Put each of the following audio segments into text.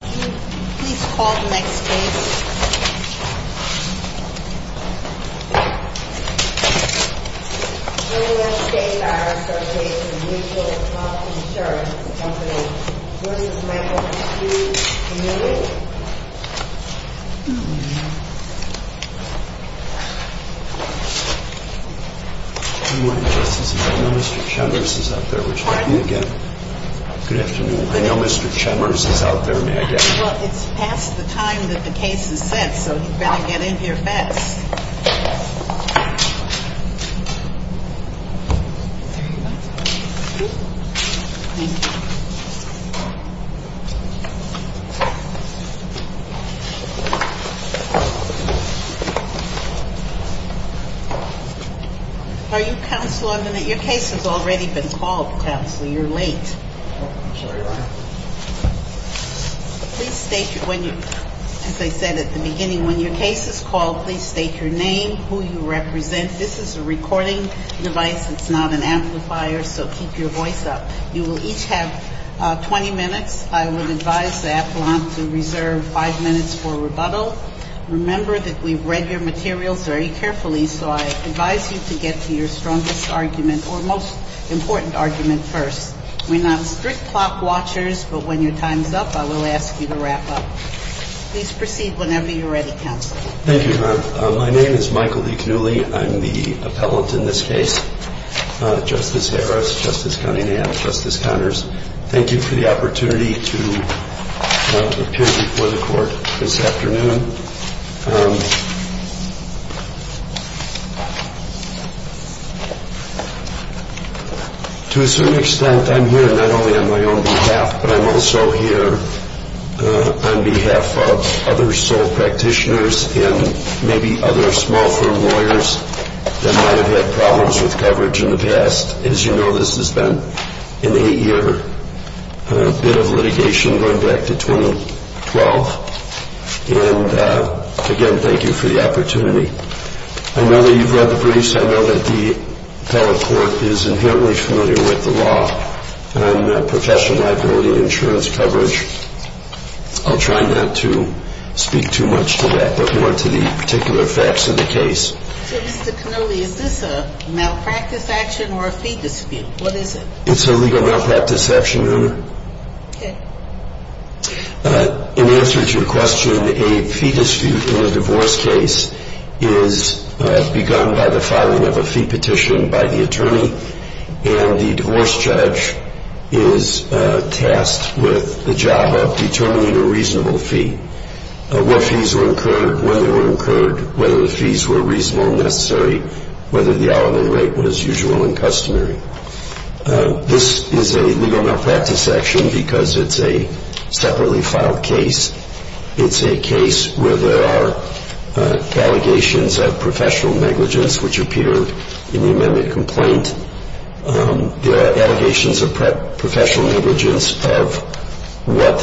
Good morning, Justices. I know Mr. Chemeris is out there. We're talking again. Good afternoon. I know Mr. Chemeris is out there. May I get him? Well, it's past the time that the case has set, so he'd better get in here fast. Thank you. Are you Counselor? Your case has already been called, Counselor. You're late. Please state, as I said at the beginning, when your case is called, please state your name, who you represent. This is a recording device. It's not an amplifier, so keep your voice up. You will each have 20 minutes. I would advise the appellant to reserve five minutes for rebuttal. Remember that we've read your materials very carefully, so I advise you to get to your strongest argument or most important argument first. We're not stopping you. We're strict clock watchers, but when your time's up, I will ask you to wrap up. Please proceed whenever you're ready, Counselor. Thank you, Your Honor. My name is Michael D. Cannuli. I'm the appellant in this case. Justice Harris, Justice Cunningham, Justice Connors, thank you for the opportunity to appear before the Court this afternoon. To a certain extent, I'm here not only on my own behalf, but I'm also here on behalf of other sole practitioners and maybe other small firm lawyers that might have had problems with coverage in the past. As you know, this has been an eight-year bit of litigation going back to 2012, and again, thank you for the opportunity. I know that you've read the briefs. I know that the appellate court is inherently familiar with the law on professional liability insurance coverage. I'll try not to speak too much to that, but more to the particular facts of the case. So, Mr. Cannuli, is this a malpractice action or a fee dispute? What is it? It's a legal malpractice action, Your Honor. Okay. In answer to your question, a fee dispute in a divorce case is begun by the filing of a fee petition by the attorney, and the divorce judge is tasked with the job of determining a reasonable fee. What fees were incurred, when they were incurred, whether the fees were reasonable and necessary, whether the hourly rate was usual and customary. This is a legal malpractice action because it's a separately filed case. It's a case where there are allegations of professional negligence, which appeared in the amended complaint. There are allegations of professional negligence of what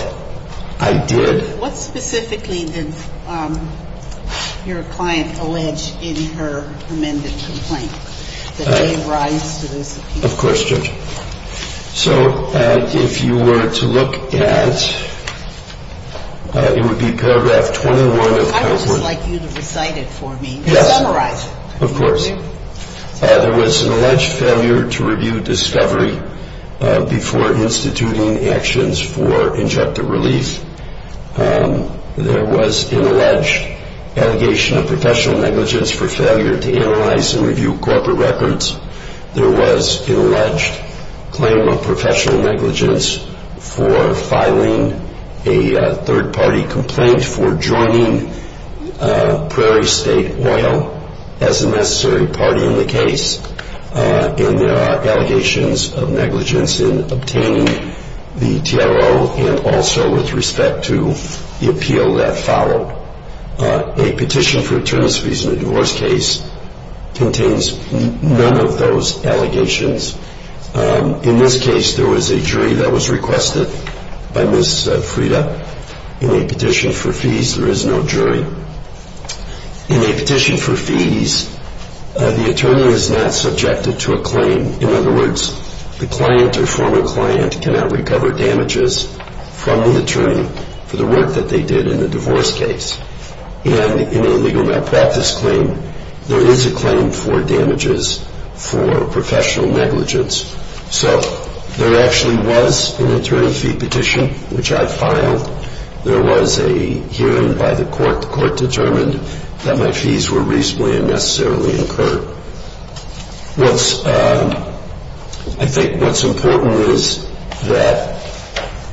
I did. What specifically did your client allege in her amended complaint that gave rise to this appeal? Of course, Judge. So, if you were to look at, it would be paragraph 21. I would just like you to recite it for me. Yes. Summarize it. There was an alleged failure to review discovery before instituting actions for injective relief. There was an alleged allegation of professional negligence for failure to analyze and review corporate records. There was an alleged claim of professional negligence for filing a third-party complaint for joining Prairie State Oil as a necessary party in the case. And there are allegations of negligence in obtaining the TRO and also with respect to the appeal that followed. A petition for attorney's fees in a divorce case contains none of those allegations. In this case, there was a jury that was requested by Ms. Frieda. In a petition for fees, there is no jury. In a petition for fees, the attorney is not subjected to a claim. In other words, the client or former client cannot recover damages from the attorney for the work that they did in the divorce case. And in a legal malpractice claim, there is a claim for damages for professional negligence. So, there actually was an attorney fee petition, which I filed. There was a hearing by the court. The court determined that my fees were reasonably and necessarily incurred. I think what's important is that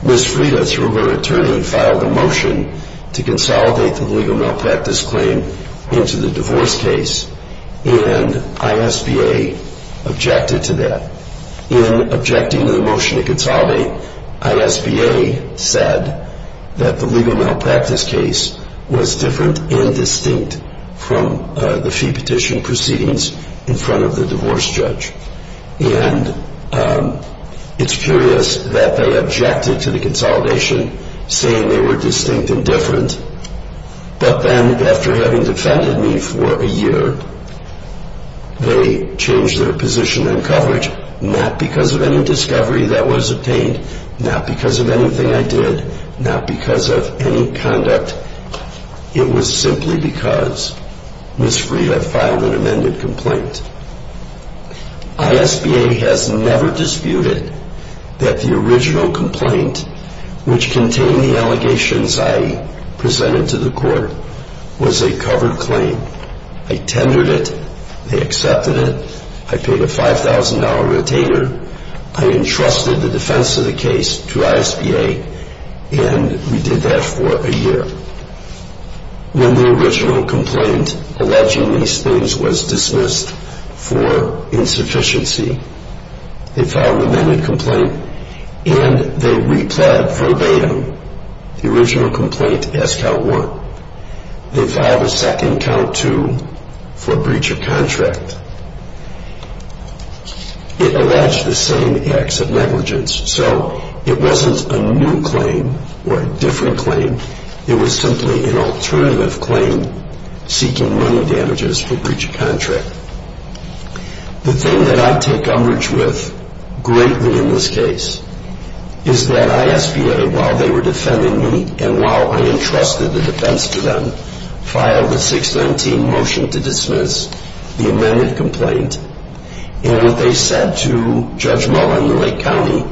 Ms. Frieda, through her attorney, filed a motion to consolidate the legal malpractice claim into the divorce case. And ISBA objected to that. In objecting to the motion to consolidate, ISBA said that the legal malpractice case was different and distinct from the fee petition proceedings in front of the divorce judge. And it's curious that they objected to the consolidation, saying they were distinct and different. But then, after having defended me for a year, they changed their position on coverage. Not because of any discovery that was obtained. Not because of anything I did. Not because of any conduct. It was simply because Ms. Frieda filed an amended complaint. ISBA has never disputed that the original complaint, which contained the allegations I presented to the court, was a covered claim. I tendered it. They accepted it. I paid a $5,000 retainer. I entrusted the defense of the case to ISBA. And we did that for a year. When the original complaint alleging these things was dismissed for insufficiency, they filed an amended complaint. And they replied verbatim. The original complaint, S-Count 1. They filed a second, Count 2, for breach of contract. It alleged the same acts of negligence. So it wasn't a new claim or a different claim. It was simply an alternative claim seeking money damages for breach of contract. The thing that I take umbrage with greatly in this case is that ISBA, while they were defending me, and while I entrusted the defense to them, filed a 619 motion to dismiss the amended complaint. And what they said to Judge Muller in the Lake County,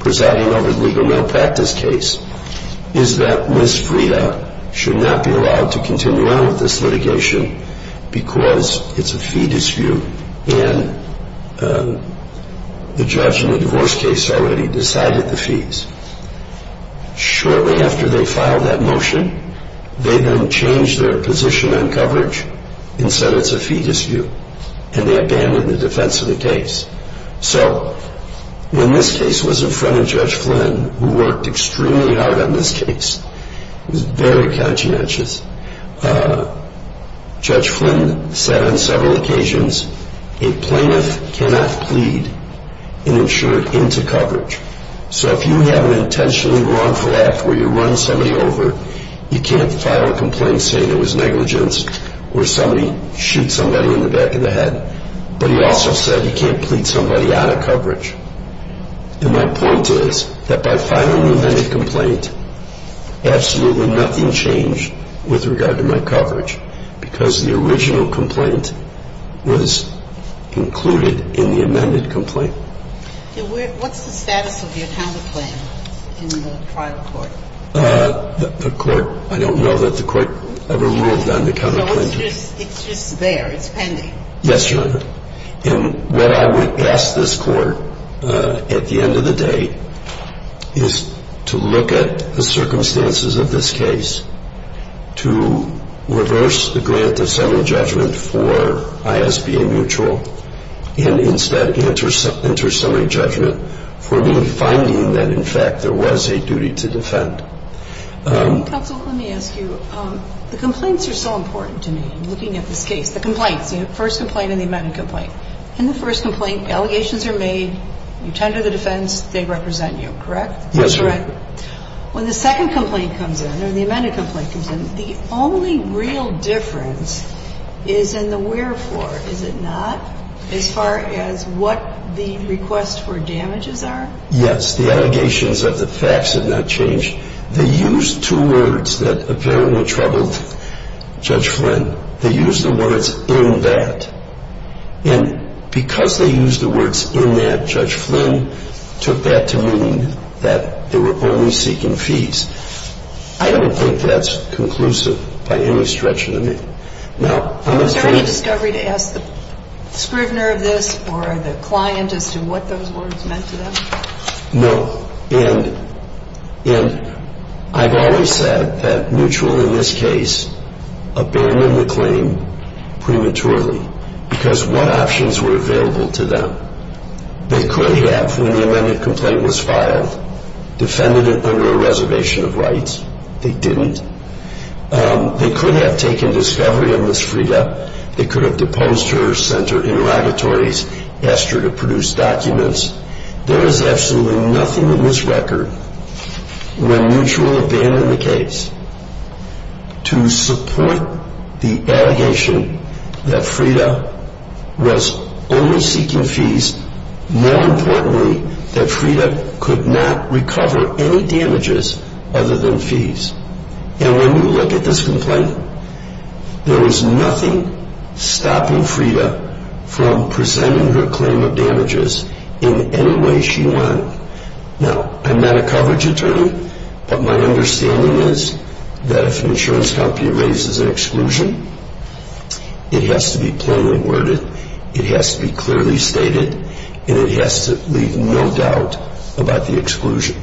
presiding over the legal malpractice case, is that Ms. Frida should not be allowed to continue on with this litigation because it's a fee dispute. And the judge in the divorce case already decided the fees. Shortly after they filed that motion, they then changed their position on coverage and said it's a fee dispute. And they abandoned the defense of the case. So when this case was in front of Judge Flynn, who worked extremely hard on this case, he was very conscientious, Judge Flynn said on several occasions, a plaintiff cannot plead an insurer into coverage. So if you have an intentionally wrongful act where you run somebody over, you can't file a complaint saying it was negligence or somebody shoots somebody in the back of the head. But he also said you can't plead somebody out of coverage. And my point is that by filing the amended complaint, absolutely nothing changed with regard to my coverage because the original complaint was included in the amended complaint. What's the status of your counter plan in the trial court? The court, I don't know that the court ever ruled on the counter plan. So it's just there, it's pending? Yes, Your Honor. And what I would ask this court at the end of the day is to look at the circumstances of this case, to reverse the grant of summary judgment for ISBA mutual and instead enter summary judgment for me finding that, in fact, there was a duty to defend. Counsel, let me ask you. The complaints are so important to me. I'm looking at this case. The complaints, the first complaint and the amended complaint. In the first complaint, allegations are made. You tender the defense. They represent you, correct? Yes, Your Honor. When the second complaint comes in or the amended complaint comes in, the only real difference is in the wherefore. Is it not? As far as what the request for damages are? Yes. The allegations of the facts have not changed. They used two words that apparently troubled Judge Flynn. They used the words, in that. And because they used the words, in that, Judge Flynn took that to mean that they were only seeking fees. I don't think that's conclusive by any stretch of the name. Was there any discovery to ask the scrivener of this or the client as to what those words meant to them? No. And I've always said that mutual in this case abandoned the claim prematurely because what options were available to them? They could have, when the amended complaint was filed, defended it under a reservation of rights. They didn't. They could have taken discovery on Ms. Frida. They could have deposed her, sent her interrogatories, asked her to produce documents. There is absolutely nothing in this record where mutual abandoned the case to support the allegation that Frida was only seeking fees. More importantly, that Frida could not recover any damages other than fees. And when you look at this complaint, there was nothing stopping Frida from presenting her claim of damages in any way she wanted. Now, I'm not a coverage attorney, but my understanding is that if an insurance company raises an exclusion, it has to be plainly worded, it has to be clearly stated, and it has to leave no doubt about the exclusion.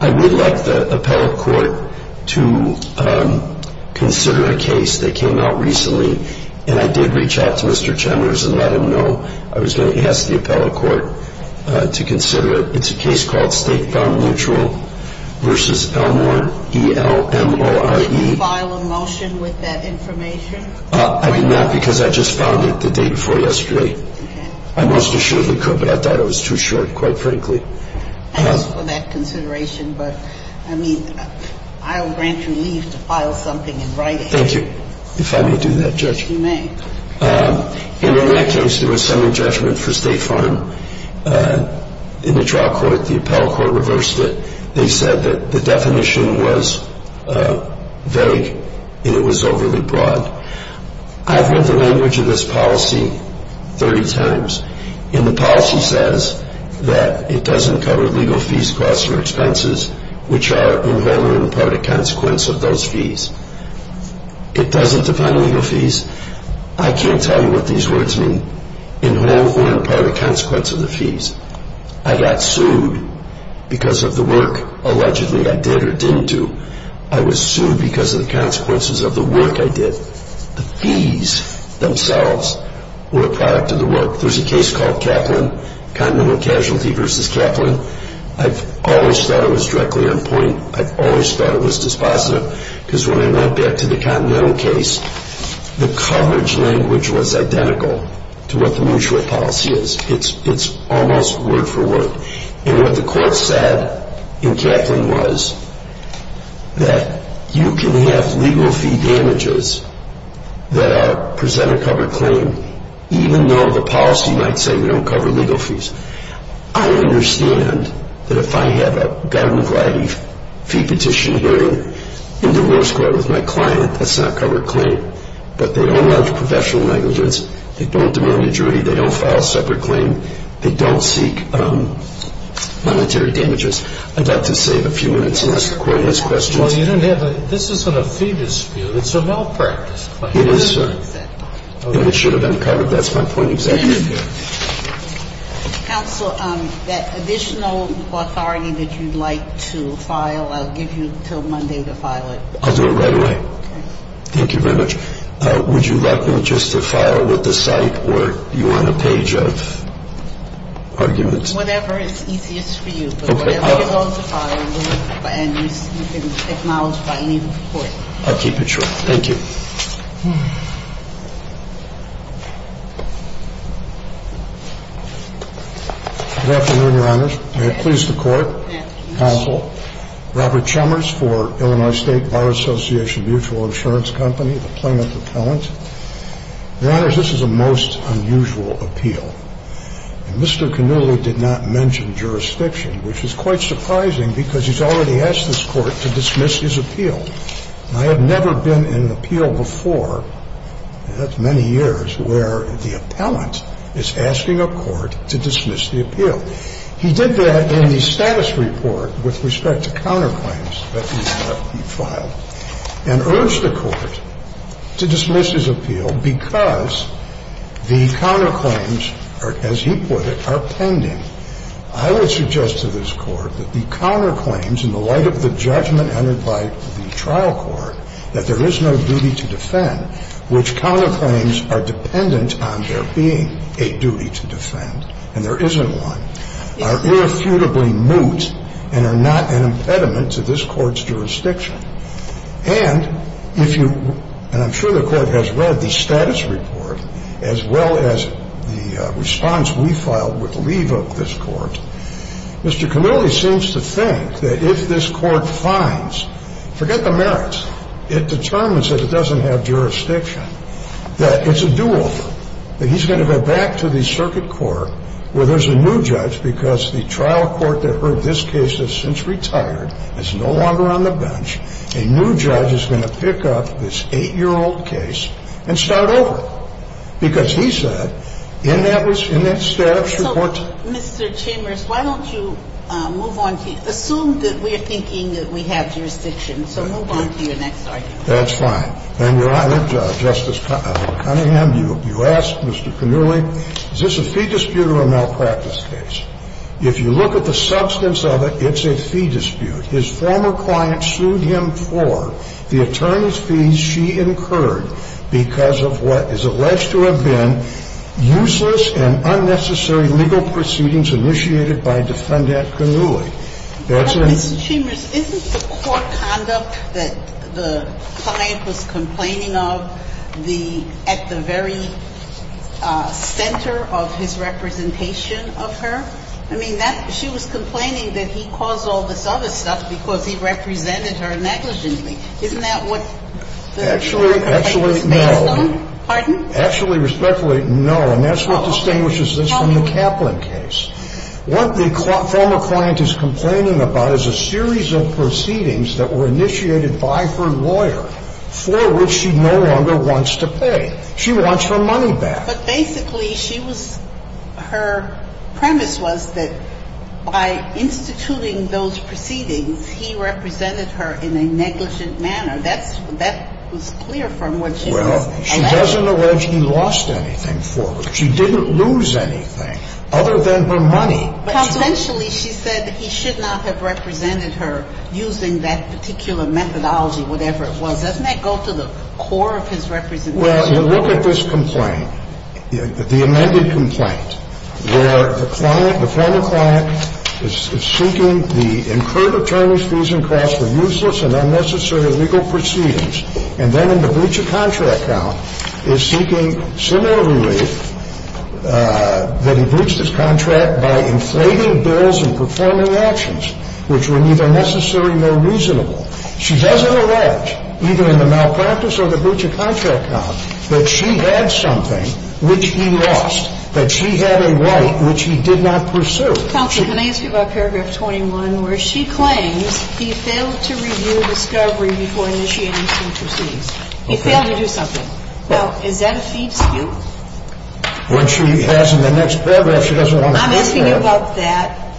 I would like the appellate court to consider a case that came out recently, and I did reach out to Mr. Chemers and let him know I was going to ask the appellate court to consider it. It's a case called State Found Mutual v. Elmore, E-L-M-O-R-E. Did you file a motion with that information? I did not because I just found it the day before yesterday. I most assuredly could, but I thought it was too short, quite frankly. Thanks for that consideration, but, I mean, I'll grant you leave to file something in writing. Thank you, if I may do that, Judge. You may. In that case, there was some adjustment for State Farm. In the trial court, the appellate court reversed it. They said that the definition was vague and it was overly broad. I've read the language of this policy 30 times, and the policy says that it doesn't cover legal fees, costs, or expenses, which are in whole or in part a consequence of those fees. It doesn't define legal fees. I can't tell you what these words mean. In whole or in part a consequence of the fees. I got sued because of the work, allegedly, I did or didn't do. I was sued because of the consequences of the work I did. The fees themselves were a product of the work. There's a case called Kaplan, Continental Casualty v. Kaplan. I've always thought it was directly on point. I've always thought it was dispositive because when I went back to the Continental case, the coverage language was identical to what the mutual policy is. It's almost word for word. What the court said in Kaplan was that you can have legal fee damages that present a covered claim, even though the policy might say you don't cover legal fees. I understand that if I have a government-wide fee petition hearing in divorce court with my client, that's not a covered claim. But they don't launch professional negligence. They don't demand a jury. They don't file a separate claim. They don't seek monetary damages. I'd like to save a few minutes unless the court has questions. Well, you don't have a – this isn't a fee dispute. It's a well-practiced claim. It is, sir. And it should have been covered. That's my point exactly. Counsel, that additional authority that you'd like to file, I'll give you until Monday to file it. I'll do it right away. Okay. Thank you very much. Would you like me just to file with the site or you want a page of arguments? Whatever is easiest for you. Okay. But whatever you want to file, you can acknowledge by legal court. I'll keep it short. Thank you. Good afternoon, Your Honors. May it please the Court. Counsel, Robert Chalmers for Illinois State Bar Association Mutual Insurance Company, the plaintiff appellant. Your Honors, this is a most unusual appeal. And Mr. Cannulli did not mention jurisdiction, which is quite surprising because he's already asked this court to dismiss his appeal. I have never been in an appeal before, and that's many years, where the appellant is asking a court to dismiss the appeal. He did that in the status report with respect to counterclaims that he filed and urged the court to dismiss his appeal because the counterclaims, as he put it, are pending. I would suggest to this court that the counterclaims, in the light of the judgment entered by the trial court, that there is no duty to defend, which counterclaims are dependent on there being a duty to defend, and there isn't one, are irrefutably moot and are not an impediment to this court's jurisdiction. And if you, and I'm sure the court has read the status report, as well as the response we filed with leave of this court, Mr. Cannulli seems to think that if this court finds, forget the merits, it determines that it doesn't have jurisdiction, that it's a do-over, that he's going to go back to the circuit court where there's a new judge because the trial court that heard this case has since retired, is no longer on the bench. A new judge is going to pick up this 8-year-old case and start over because he said in that status report. So, Mr. Chambers, why don't you move on? Assume that we are thinking that we have jurisdiction, so move on to your next argument. That's fine. And, Your Honor, Justice Cunningham, you asked Mr. Cannulli, is this a fee dispute or a malpractice case? If you look at the substance of it, it's a fee dispute. His former client sued him for the attorney's fees she incurred because of what is alleged to have been useless and unnecessary legal proceedings initiated by Defendant Cannulli. That's a ---- But, Mr. Chambers, isn't the court conduct that the client was complaining of the at the very center of his representation of her? I mean, that ---- she was complaining that he caused all this other stuff because he represented her negligently. Isn't that what the ---- Actually, actually, no. Pardon? Actually, respectfully, no. And that's what distinguishes this from the Kaplan case. What the former client is complaining about is a series of proceedings that were initiated by her lawyer for which she no longer wants to pay. She wants her money back. But basically, she was ---- her premise was that by instituting those proceedings, he represented her in a negligent manner. That's ---- that was clear from what she says. Well, she doesn't allege he lost anything for her. She didn't lose anything other than her money. But essentially, she said that he should not have represented her using that particular methodology, whatever it was. Doesn't that go to the core of his representation? Well, you look at this complaint, the amended complaint, where the client, the former client is seeking the incurred attorney's fees and costs for useless and unnecessary legal proceedings. And then in the breach of contract count is seeking similar relief that he breached his contract by inflating bills and performing actions which were neither necessary nor reasonable. She doesn't allege, either in the malpractice or the breach of contract count, that she had something which he lost, that she had a right which he did not pursue. Counsel, can I ask you about paragraph 21, where she claims he failed to review discovery before initiating such proceedings. Okay. He failed to do something. Now, is that a fee dispute? What she has in the next paragraph, she doesn't want to prove that. I'm asking you about that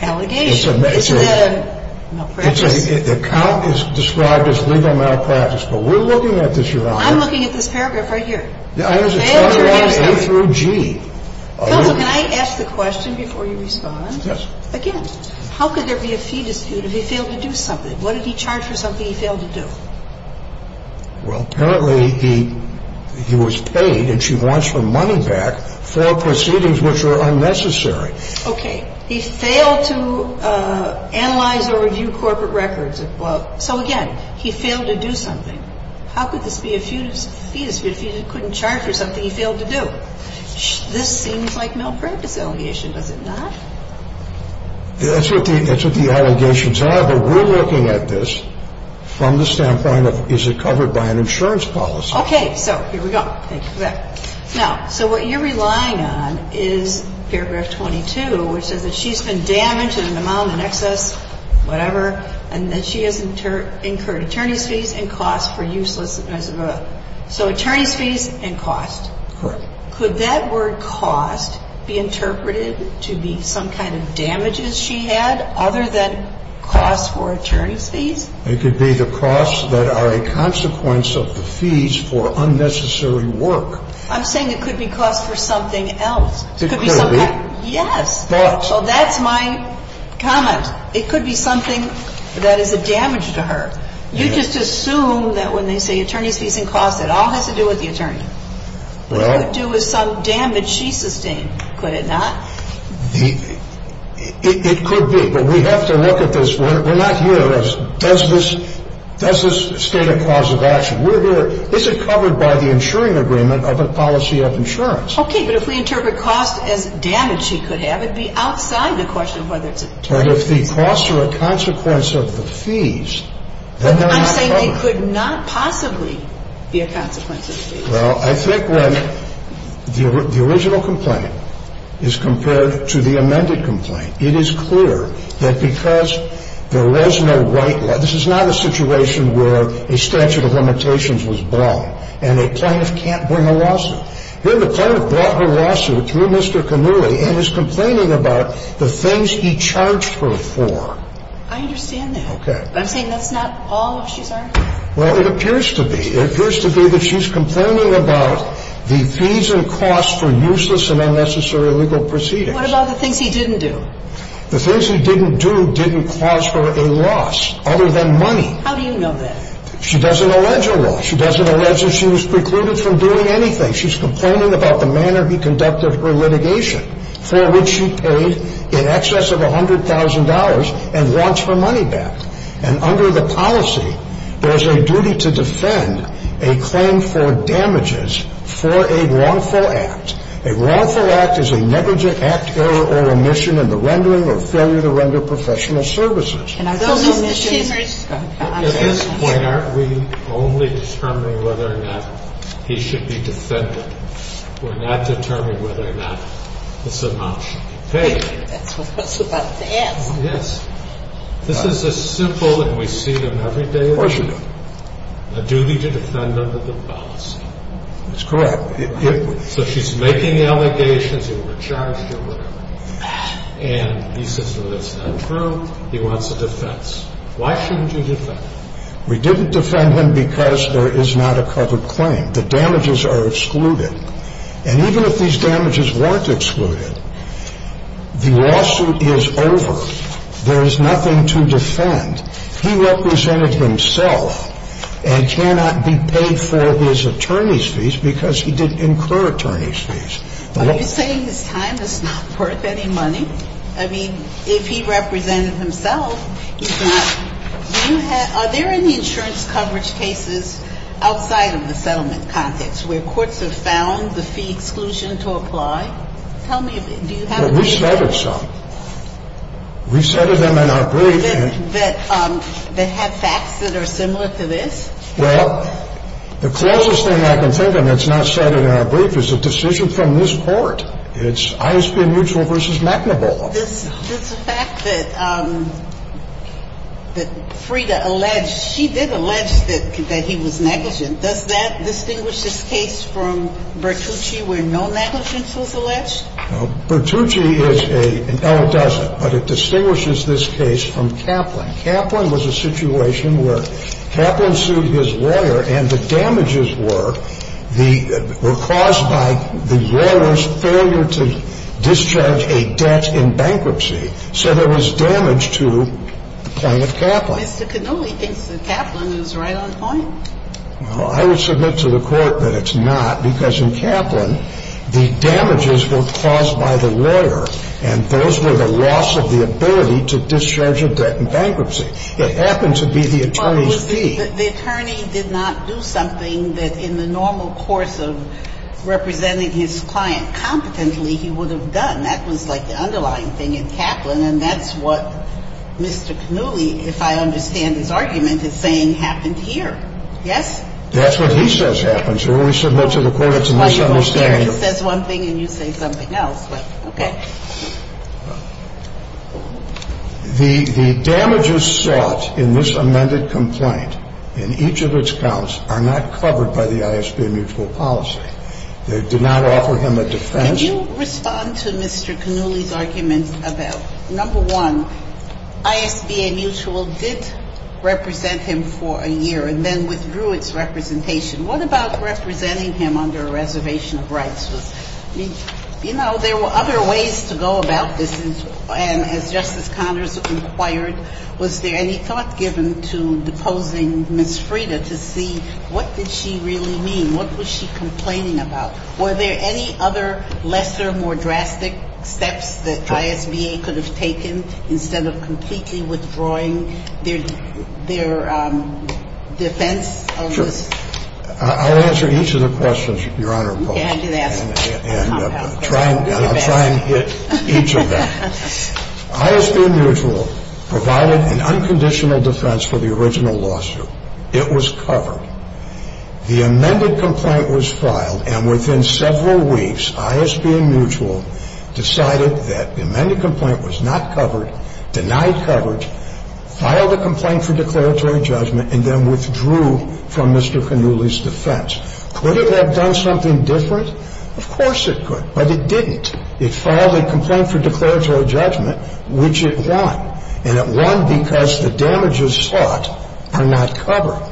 allegation. It's a measure. This is a malpractice. The count is described as legal malpractice. But we're looking at this, Your Honor. I'm looking at this paragraph right here. Failed to review discovery. It's characterized through G. Counsel, can I ask the question before you respond? Yes. Again, how could there be a fee dispute if he failed to do something? What did he charge for something he failed to do? Well, apparently he was paid, and she wants her money back, for proceedings which were unnecessary. Okay. He failed to analyze or review corporate records. So, again, he failed to do something. How could this be a fee dispute if he couldn't charge for something he failed to do? This seems like malpractice allegation. Does it not? That's what the allegations are, but we're looking at this from the standpoint of is it covered by an insurance policy? Okay. So here we go. Thank you for that. Now, so what you're relying on is paragraph 22, which says that she's been damaged in an amount in excess, whatever, and that she has incurred attorney's fees and costs for useless, blah, blah, blah. So attorney's fees and costs. Correct. Could that word cost be interpreted to be some kind of damages she had, other than costs for attorney's fees? It could be the costs that are a consequence of the fees for unnecessary work. I'm saying it could be costs for something else. It could be. Yes. So that's my comment. It could be something that is a damage to her. You just assume that when they say attorney's fees and costs, it all has to do with the attorney. Well. It could do with some damage she sustained, could it not? It could be, but we have to look at this. We're not here as does this state a cause of action? We're here, is it covered by the insuring agreement of a policy of insurance? Okay, but if we interpret cost as damage she could have, it would be outside the question of whether it's attorney's fees. But if the costs are a consequence of the fees, then they're not covered. I'm saying they could not possibly be a consequence of the fees. Well, I think when the original complaint is compared to the amended complaint, it is clear that because there was no right, this is not a situation where a statute of limitations was blown and a plaintiff can't bring a lawsuit. Here the plaintiff brought her lawsuit through Mr. Kanuhi and is complaining about the things he charged her for. I understand that. Okay. But I'm saying that's not all she's arguing. Well, it appears to be. It appears to be that she's complaining about the fees and costs for useless and unnecessary legal proceedings. What about the things he didn't do? The things he didn't do didn't cause her a loss. Other than money. How do you know that? She doesn't allege a loss. She doesn't allege that she was precluded from doing anything. She's complaining about the manner he conducted her litigation, for which she paid in excess of $100,000 and wants her money back. And under the policy, there's a duty to defend a claim for damages for a wrongful act. A wrongful act is a negligent act, error, or omission in the rendering or failure to render professional services. At this point, aren't we only determining whether or not he should be defended? We're not determining whether or not this amount should be paid. That's what I was about to ask. Yes. This is a simple, and we see them every day of the week, a duty to defend under the policy. That's correct. So she's making allegations that were charged or whatever. And he says, well, that's not true. He wants a defense. Why shouldn't you defend him? We didn't defend him because there is not a covered claim. The damages are excluded. And even if these damages weren't excluded, the lawsuit is over. There is nothing to defend. He represented himself and cannot be paid for his attorney's fees because he didn't incur attorney's fees. Are you saying his time is not worth any money? I mean, if he represented himself, he's not. Are there any insurance coverage cases outside of the settlement context where courts have found the fee exclusion to apply? Tell me, do you have a case that… Well, we've cited some. We've cited them in our brief. That have facts that are similar to this? Well, the closest thing I can think of that's not cited in our brief is a decision from this Court. It's I.S.P.M. Mutual v. McNabola. The fact that Frida alleged, she did allege that he was negligent. Does that distinguish this case from Bertucci where no negligence was alleged? Bertucci is a, no, it doesn't. But it distinguishes this case from Kaplan. Well, I would submit to the Court that it's not, because in Kaplan, the damages were caused by the lawyer. Now, Kaplan was a situation where Kaplan sued his lawyer and the damages were the, were caused by the lawyer's failure to discharge a debt in bankruptcy. Mr. Cannulli thinks that Kaplan is right on point. Well, I would submit to the Court that it's not, because in Kaplan, the damages were caused by the lawyer, and those were the loss of the ability to discharge a debt in bankruptcy. It happened to be the attorney's fee. But the attorney did not do something that in the normal course of representing his client competently he would have done. That was like the underlying thing in Kaplan. And that's what Mr. Cannulli, if I understand his argument, is saying happened here. Yes? That's what he says happens. You're going to submit to the Court it's a misunderstanding. That's why you're going there. He says one thing and you say something else. But, okay. The damages sought in this amended complaint, in each of its counts, are not covered by the ISB mutual policy. They do not offer him a defense. Could you respond to Mr. Cannulli's argument about, number one, ISB mutual did represent him for a year and then withdrew its representation. What about representing him under a reservation of rights? You know, there were other ways to go about this, and as Justice Connors inquired, was there any thought given to deposing Ms. Frieda to see what did she really mean? What was she complaining about? Were there any other lesser, more drastic steps that ISB could have taken instead of completely withdrawing their defense of this? Sure. I'll answer each of the questions, Your Honor, and I'll try and hit each of them. ISB mutual provided an unconditional defense for the original lawsuit. It was covered. The amended complaint was filed, and within several weeks, ISB mutual decided that the amended complaint was not covered, denied coverage, filed a complaint for declaratory judgment, and then withdrew from Mr. Cannulli's defense. Could it have done something different? Of course it could, but it didn't. It filed a complaint for declaratory judgment, which it won, and it won because the damages sought are not covered.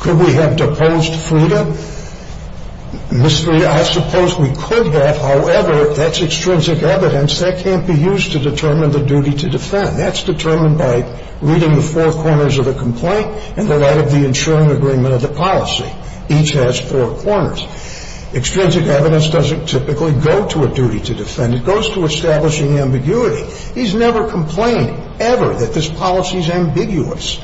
Could we have deposed Frieda? I suppose we could have. However, that's extrinsic evidence. That can't be used to determine the duty to defend. That's determined by reading the four corners of the complaint in the light of the insuring agreement of the policy. Each has four corners. Extrinsic evidence doesn't typically go to a duty to defend. It goes to establishing ambiguity. He's never complained ever that this policy is ambiguous.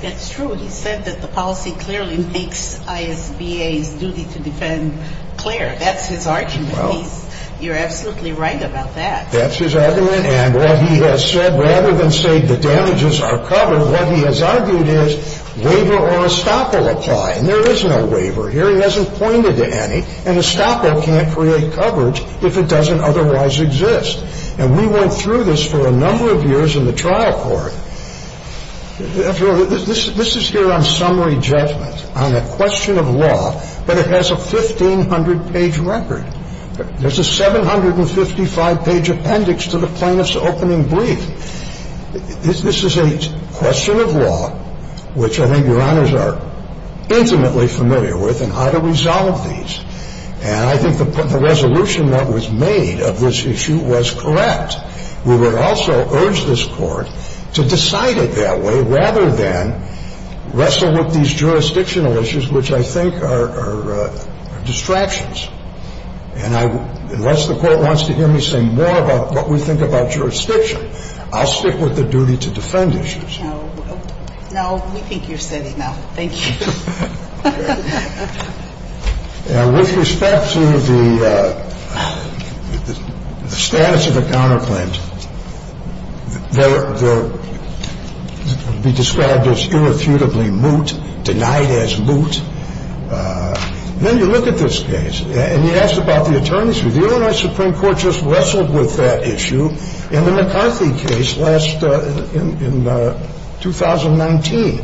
That's true. He said that the policy clearly makes ISBA's duty to defend clear. That's his argument. You're absolutely right about that. That's his argument, and what he has said, rather than say the damages are covered, what he has argued is waiver or estoppel apply, and there is no waiver here. He hasn't pointed to any, and estoppel can't create coverage if it doesn't otherwise exist. And we went through this for a number of years in the trial court. After all, this is here on summary judgment, on a question of law, but it has a 1,500-page record. There's a 755-page appendix to the plaintiff's opening brief. This is a question of law, which I think Your Honors are intimately familiar with, and how to resolve these. And I think the resolution that was made of this issue was correct. We would also urge this Court to decide it that way rather than wrestle with these jurisdictional issues, which I think are distractions. And unless the Court wants to hear me say more about what we think about jurisdiction, I'll stick with the duty to defend issues. No, we think you've said enough. Thank you. With respect to the status of the counterclaims, they'll be described as irrefutably moot, denied as moot. Then you look at this case, and you ask about the attorney's review. The Illinois Supreme Court just wrestled with that issue in the McCarthy case last – in 2019,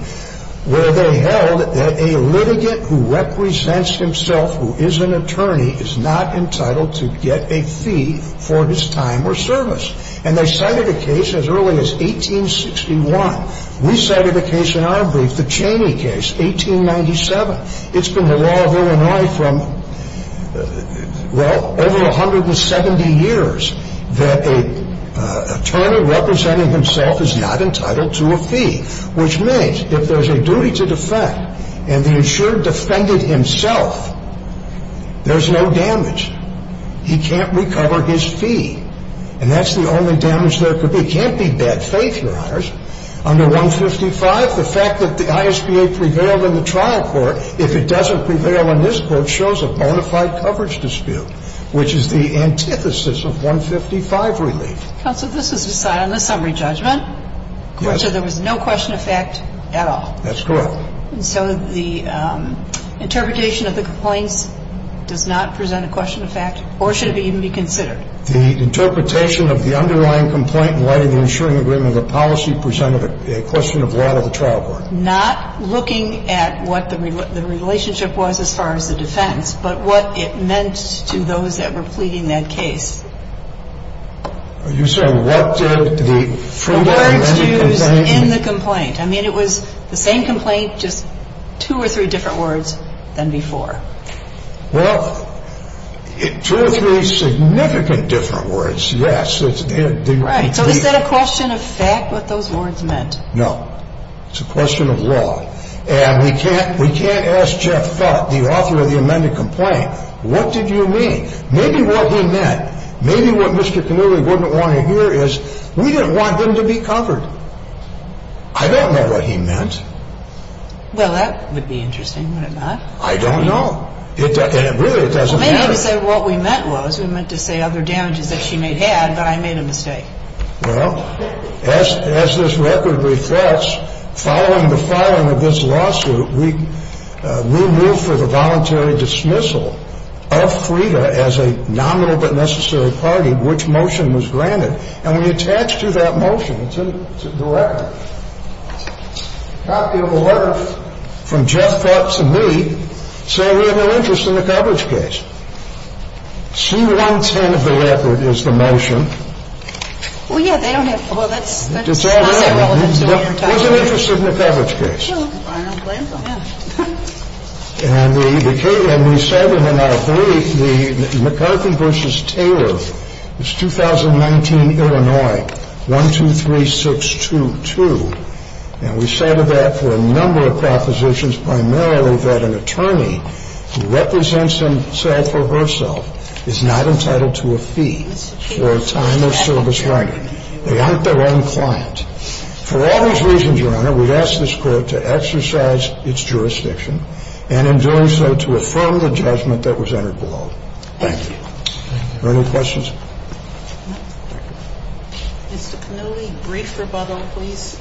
where they held that a litigant who represents himself, who is an attorney, is not entitled to get a fee for his time or service. And they cited a case as early as 1861. We cited a case in our brief, the Cheney case, 1897. It's been the law of Illinois from, well, over 170 years that an attorney representing himself is not entitled to a fee, which means if there's a duty to defend and the insured defended himself, there's no damage. He can't recover his fee. And that's the only damage there could be. It can't be bad faith, Your Honors. Under 155, the fact that the ISBA prevailed in the trial court, if it doesn't prevail in this court, shows a bona fide coverage dispute, which is the antithesis of 155 relief. Counsel, this was decided in the summary judgment. Yes. So there was no question of fact at all. That's correct. And so the interpretation of the complaints does not present a question of fact, or should it even be considered? The interpretation of the underlying complaint in light of the insuring agreement of the policy presented a question of law to the trial court. Not looking at what the relationship was as far as the defense, but what it meant to those that were pleading that case. Are you saying what did the fruit of the amended complaint? The words used in the complaint. I mean, it was the same complaint, just two or three different words than before. Well, two or three significant different words, yes. Right. So is that a question of fact, what those words meant? No. It's a question of law. And we can't ask Jeff Fuck, the author of the amended complaint, what did you mean? Maybe what he meant. Maybe what Mr. Cannuli wouldn't want to hear is we didn't want them to be covered. I don't know what he meant. Well, that would be interesting, would it not? I don't know. And really, it doesn't matter. Well, maybe to say what we meant was we meant to say other damages that she may have had, but I made a mistake. Well, as this record reflects, following the filing of this lawsuit, we moved for the voluntary dismissal of Frida as a nominal but necessary party which motion was granted. And we attached to that motion, to the record, a copy of a letter from Jeff Fuck to me saying we have no interest in the coverage case. C-110 of the record is the motion. Well, yeah. They don't have – Well, that's – It's all there. Was it interested in the coverage case? Well, I don't blame them. Yeah. And we cited in our three the McCarthy v. Taylor. It's 2019, Illinois, 123622. And we cited that for a number of propositions, primarily that an attorney who represents himself or herself is not entitled to a fee for a time of service record. They aren't their own client. For all those reasons, Your Honor, we'd ask this Court to exercise its jurisdiction and, in doing so, to affirm the judgment that was entered below. Thank you. Thank you. Are there any questions? Mr. Panulli, brief rebuttal, please.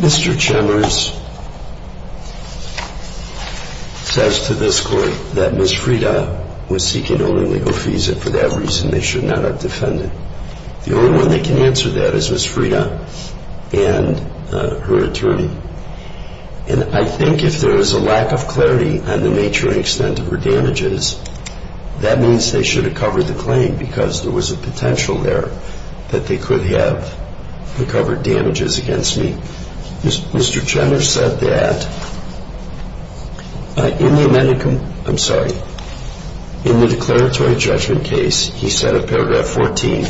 Mr. Chambers says to this Court that Ms. Frieda was seeking an only legal visa. For that reason, they should not have defended. The only one that can answer that is Ms. Frieda and her attorney. And I think if there is a lack of clarity on the nature and extent of her damages, that means they should have covered the claim because there was a potential there that they could have recovered damages against me. Mr. Chambers said that in the declaratory judgment case, he said of paragraph 14,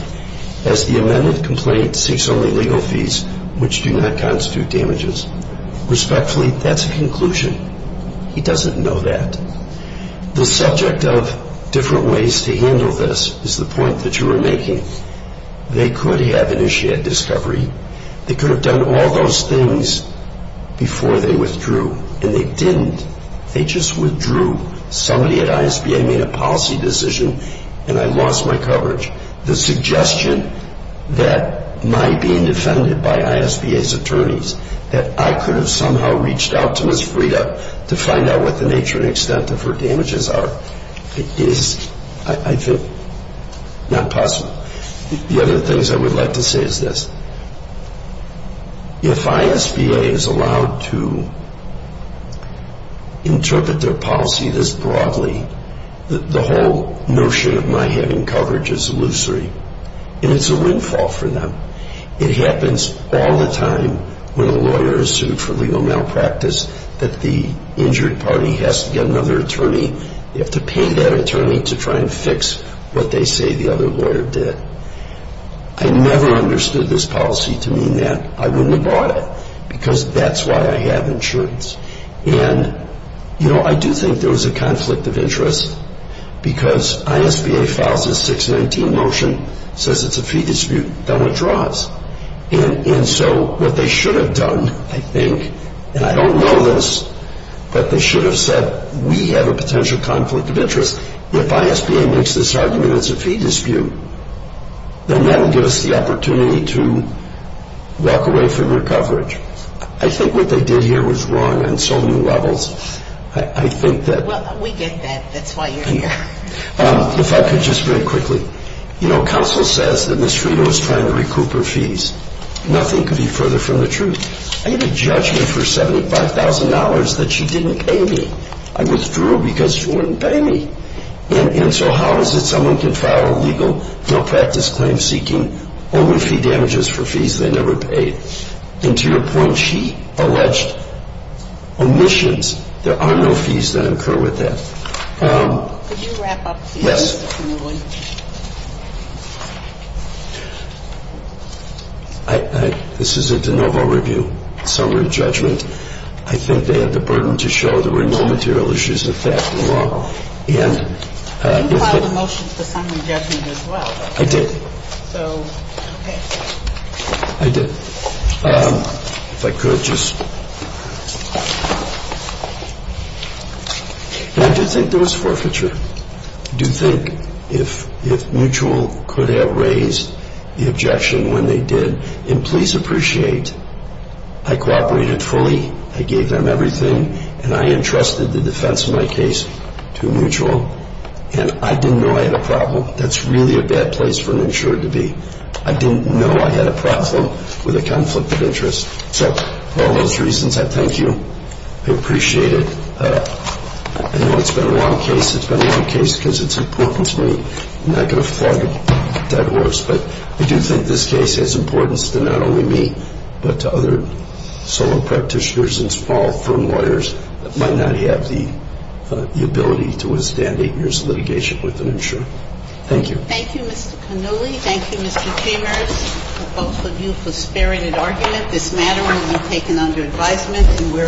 as the amended complaint seeks only legal fees which do not constitute damages. Respectfully, that's a conclusion. He doesn't know that. The subject of different ways to handle this is the point that you were making. They could have initiated discovery. They could have done all those things before they withdrew. And they didn't. They just withdrew. Somebody at ISBA made a policy decision, and I lost my coverage. The suggestion that my being defended by ISBA's attorneys, that I could have somehow reached out to Ms. Frieda to find out what the nature and extent of her damages are, is, I think, not possible. The other things I would like to say is this. If ISBA is allowed to interpret their policy this broadly, the whole notion of my having coverage is illusory. And it's a windfall for them. It happens all the time when a lawyer is sued for legal malpractice that the injured party has to get another attorney. They have to pay that attorney to try and fix what they say the other lawyer did. I never understood this policy to mean that I wouldn't have bought it because that's why I have insurance. And, you know, I do think there was a conflict of interest because ISBA files a 619 motion, says it's a fee dispute, then withdraws. And so what they should have done, I think, and I don't know this, but they should have said we have a potential conflict of interest. If ISBA makes this argument it's a fee dispute, then that will give us the opportunity to walk away from your coverage. I think what they did here was wrong on so many levels. I think that... Well, we get that. That's why you're here. If I could just very quickly. You know, counsel says that Ms. Frito is trying to recoup her fees. Nothing could be further from the truth. I get a judgment for $75,000 that she didn't pay me. I withdrew it because she wouldn't pay me. And so how is it someone can file a legal malpractice claim seeking only fee damages for fees they never paid? And to your point, she alleged omissions. There are no fees that incur with that. Could you wrap up, please? Yes. This is a de novo review, summary judgment. I think they had the burden to show there were no material issues of fact in the law. And... You filed a motion for summary judgment as well. I did. So, okay. I did. If I could just... And I do think there was forfeiture. I do think if Mutual could have raised the objection when they did, and please appreciate, I cooperated fully. I gave them everything. And I entrusted the defense of my case to Mutual. And I didn't know I had a problem. That's really a bad place for an insurer to be. I didn't know I had a problem with a conflict of interest. So, for all those reasons, I thank you. I appreciate it. I know it's been a long case. It's been a long case because it's important to me. I'm not going to flog a dead horse. But I do think this case has importance to not only me, but to other solo practitioners and small firm lawyers that might not have the ability to withstand eight years of litigation with an insurer. Thank you. Thank you, Mr. Cannulli. Thank you, Mr. Chambers, both of you for sparing an argument. This matter will be taken under advisement. Thank you.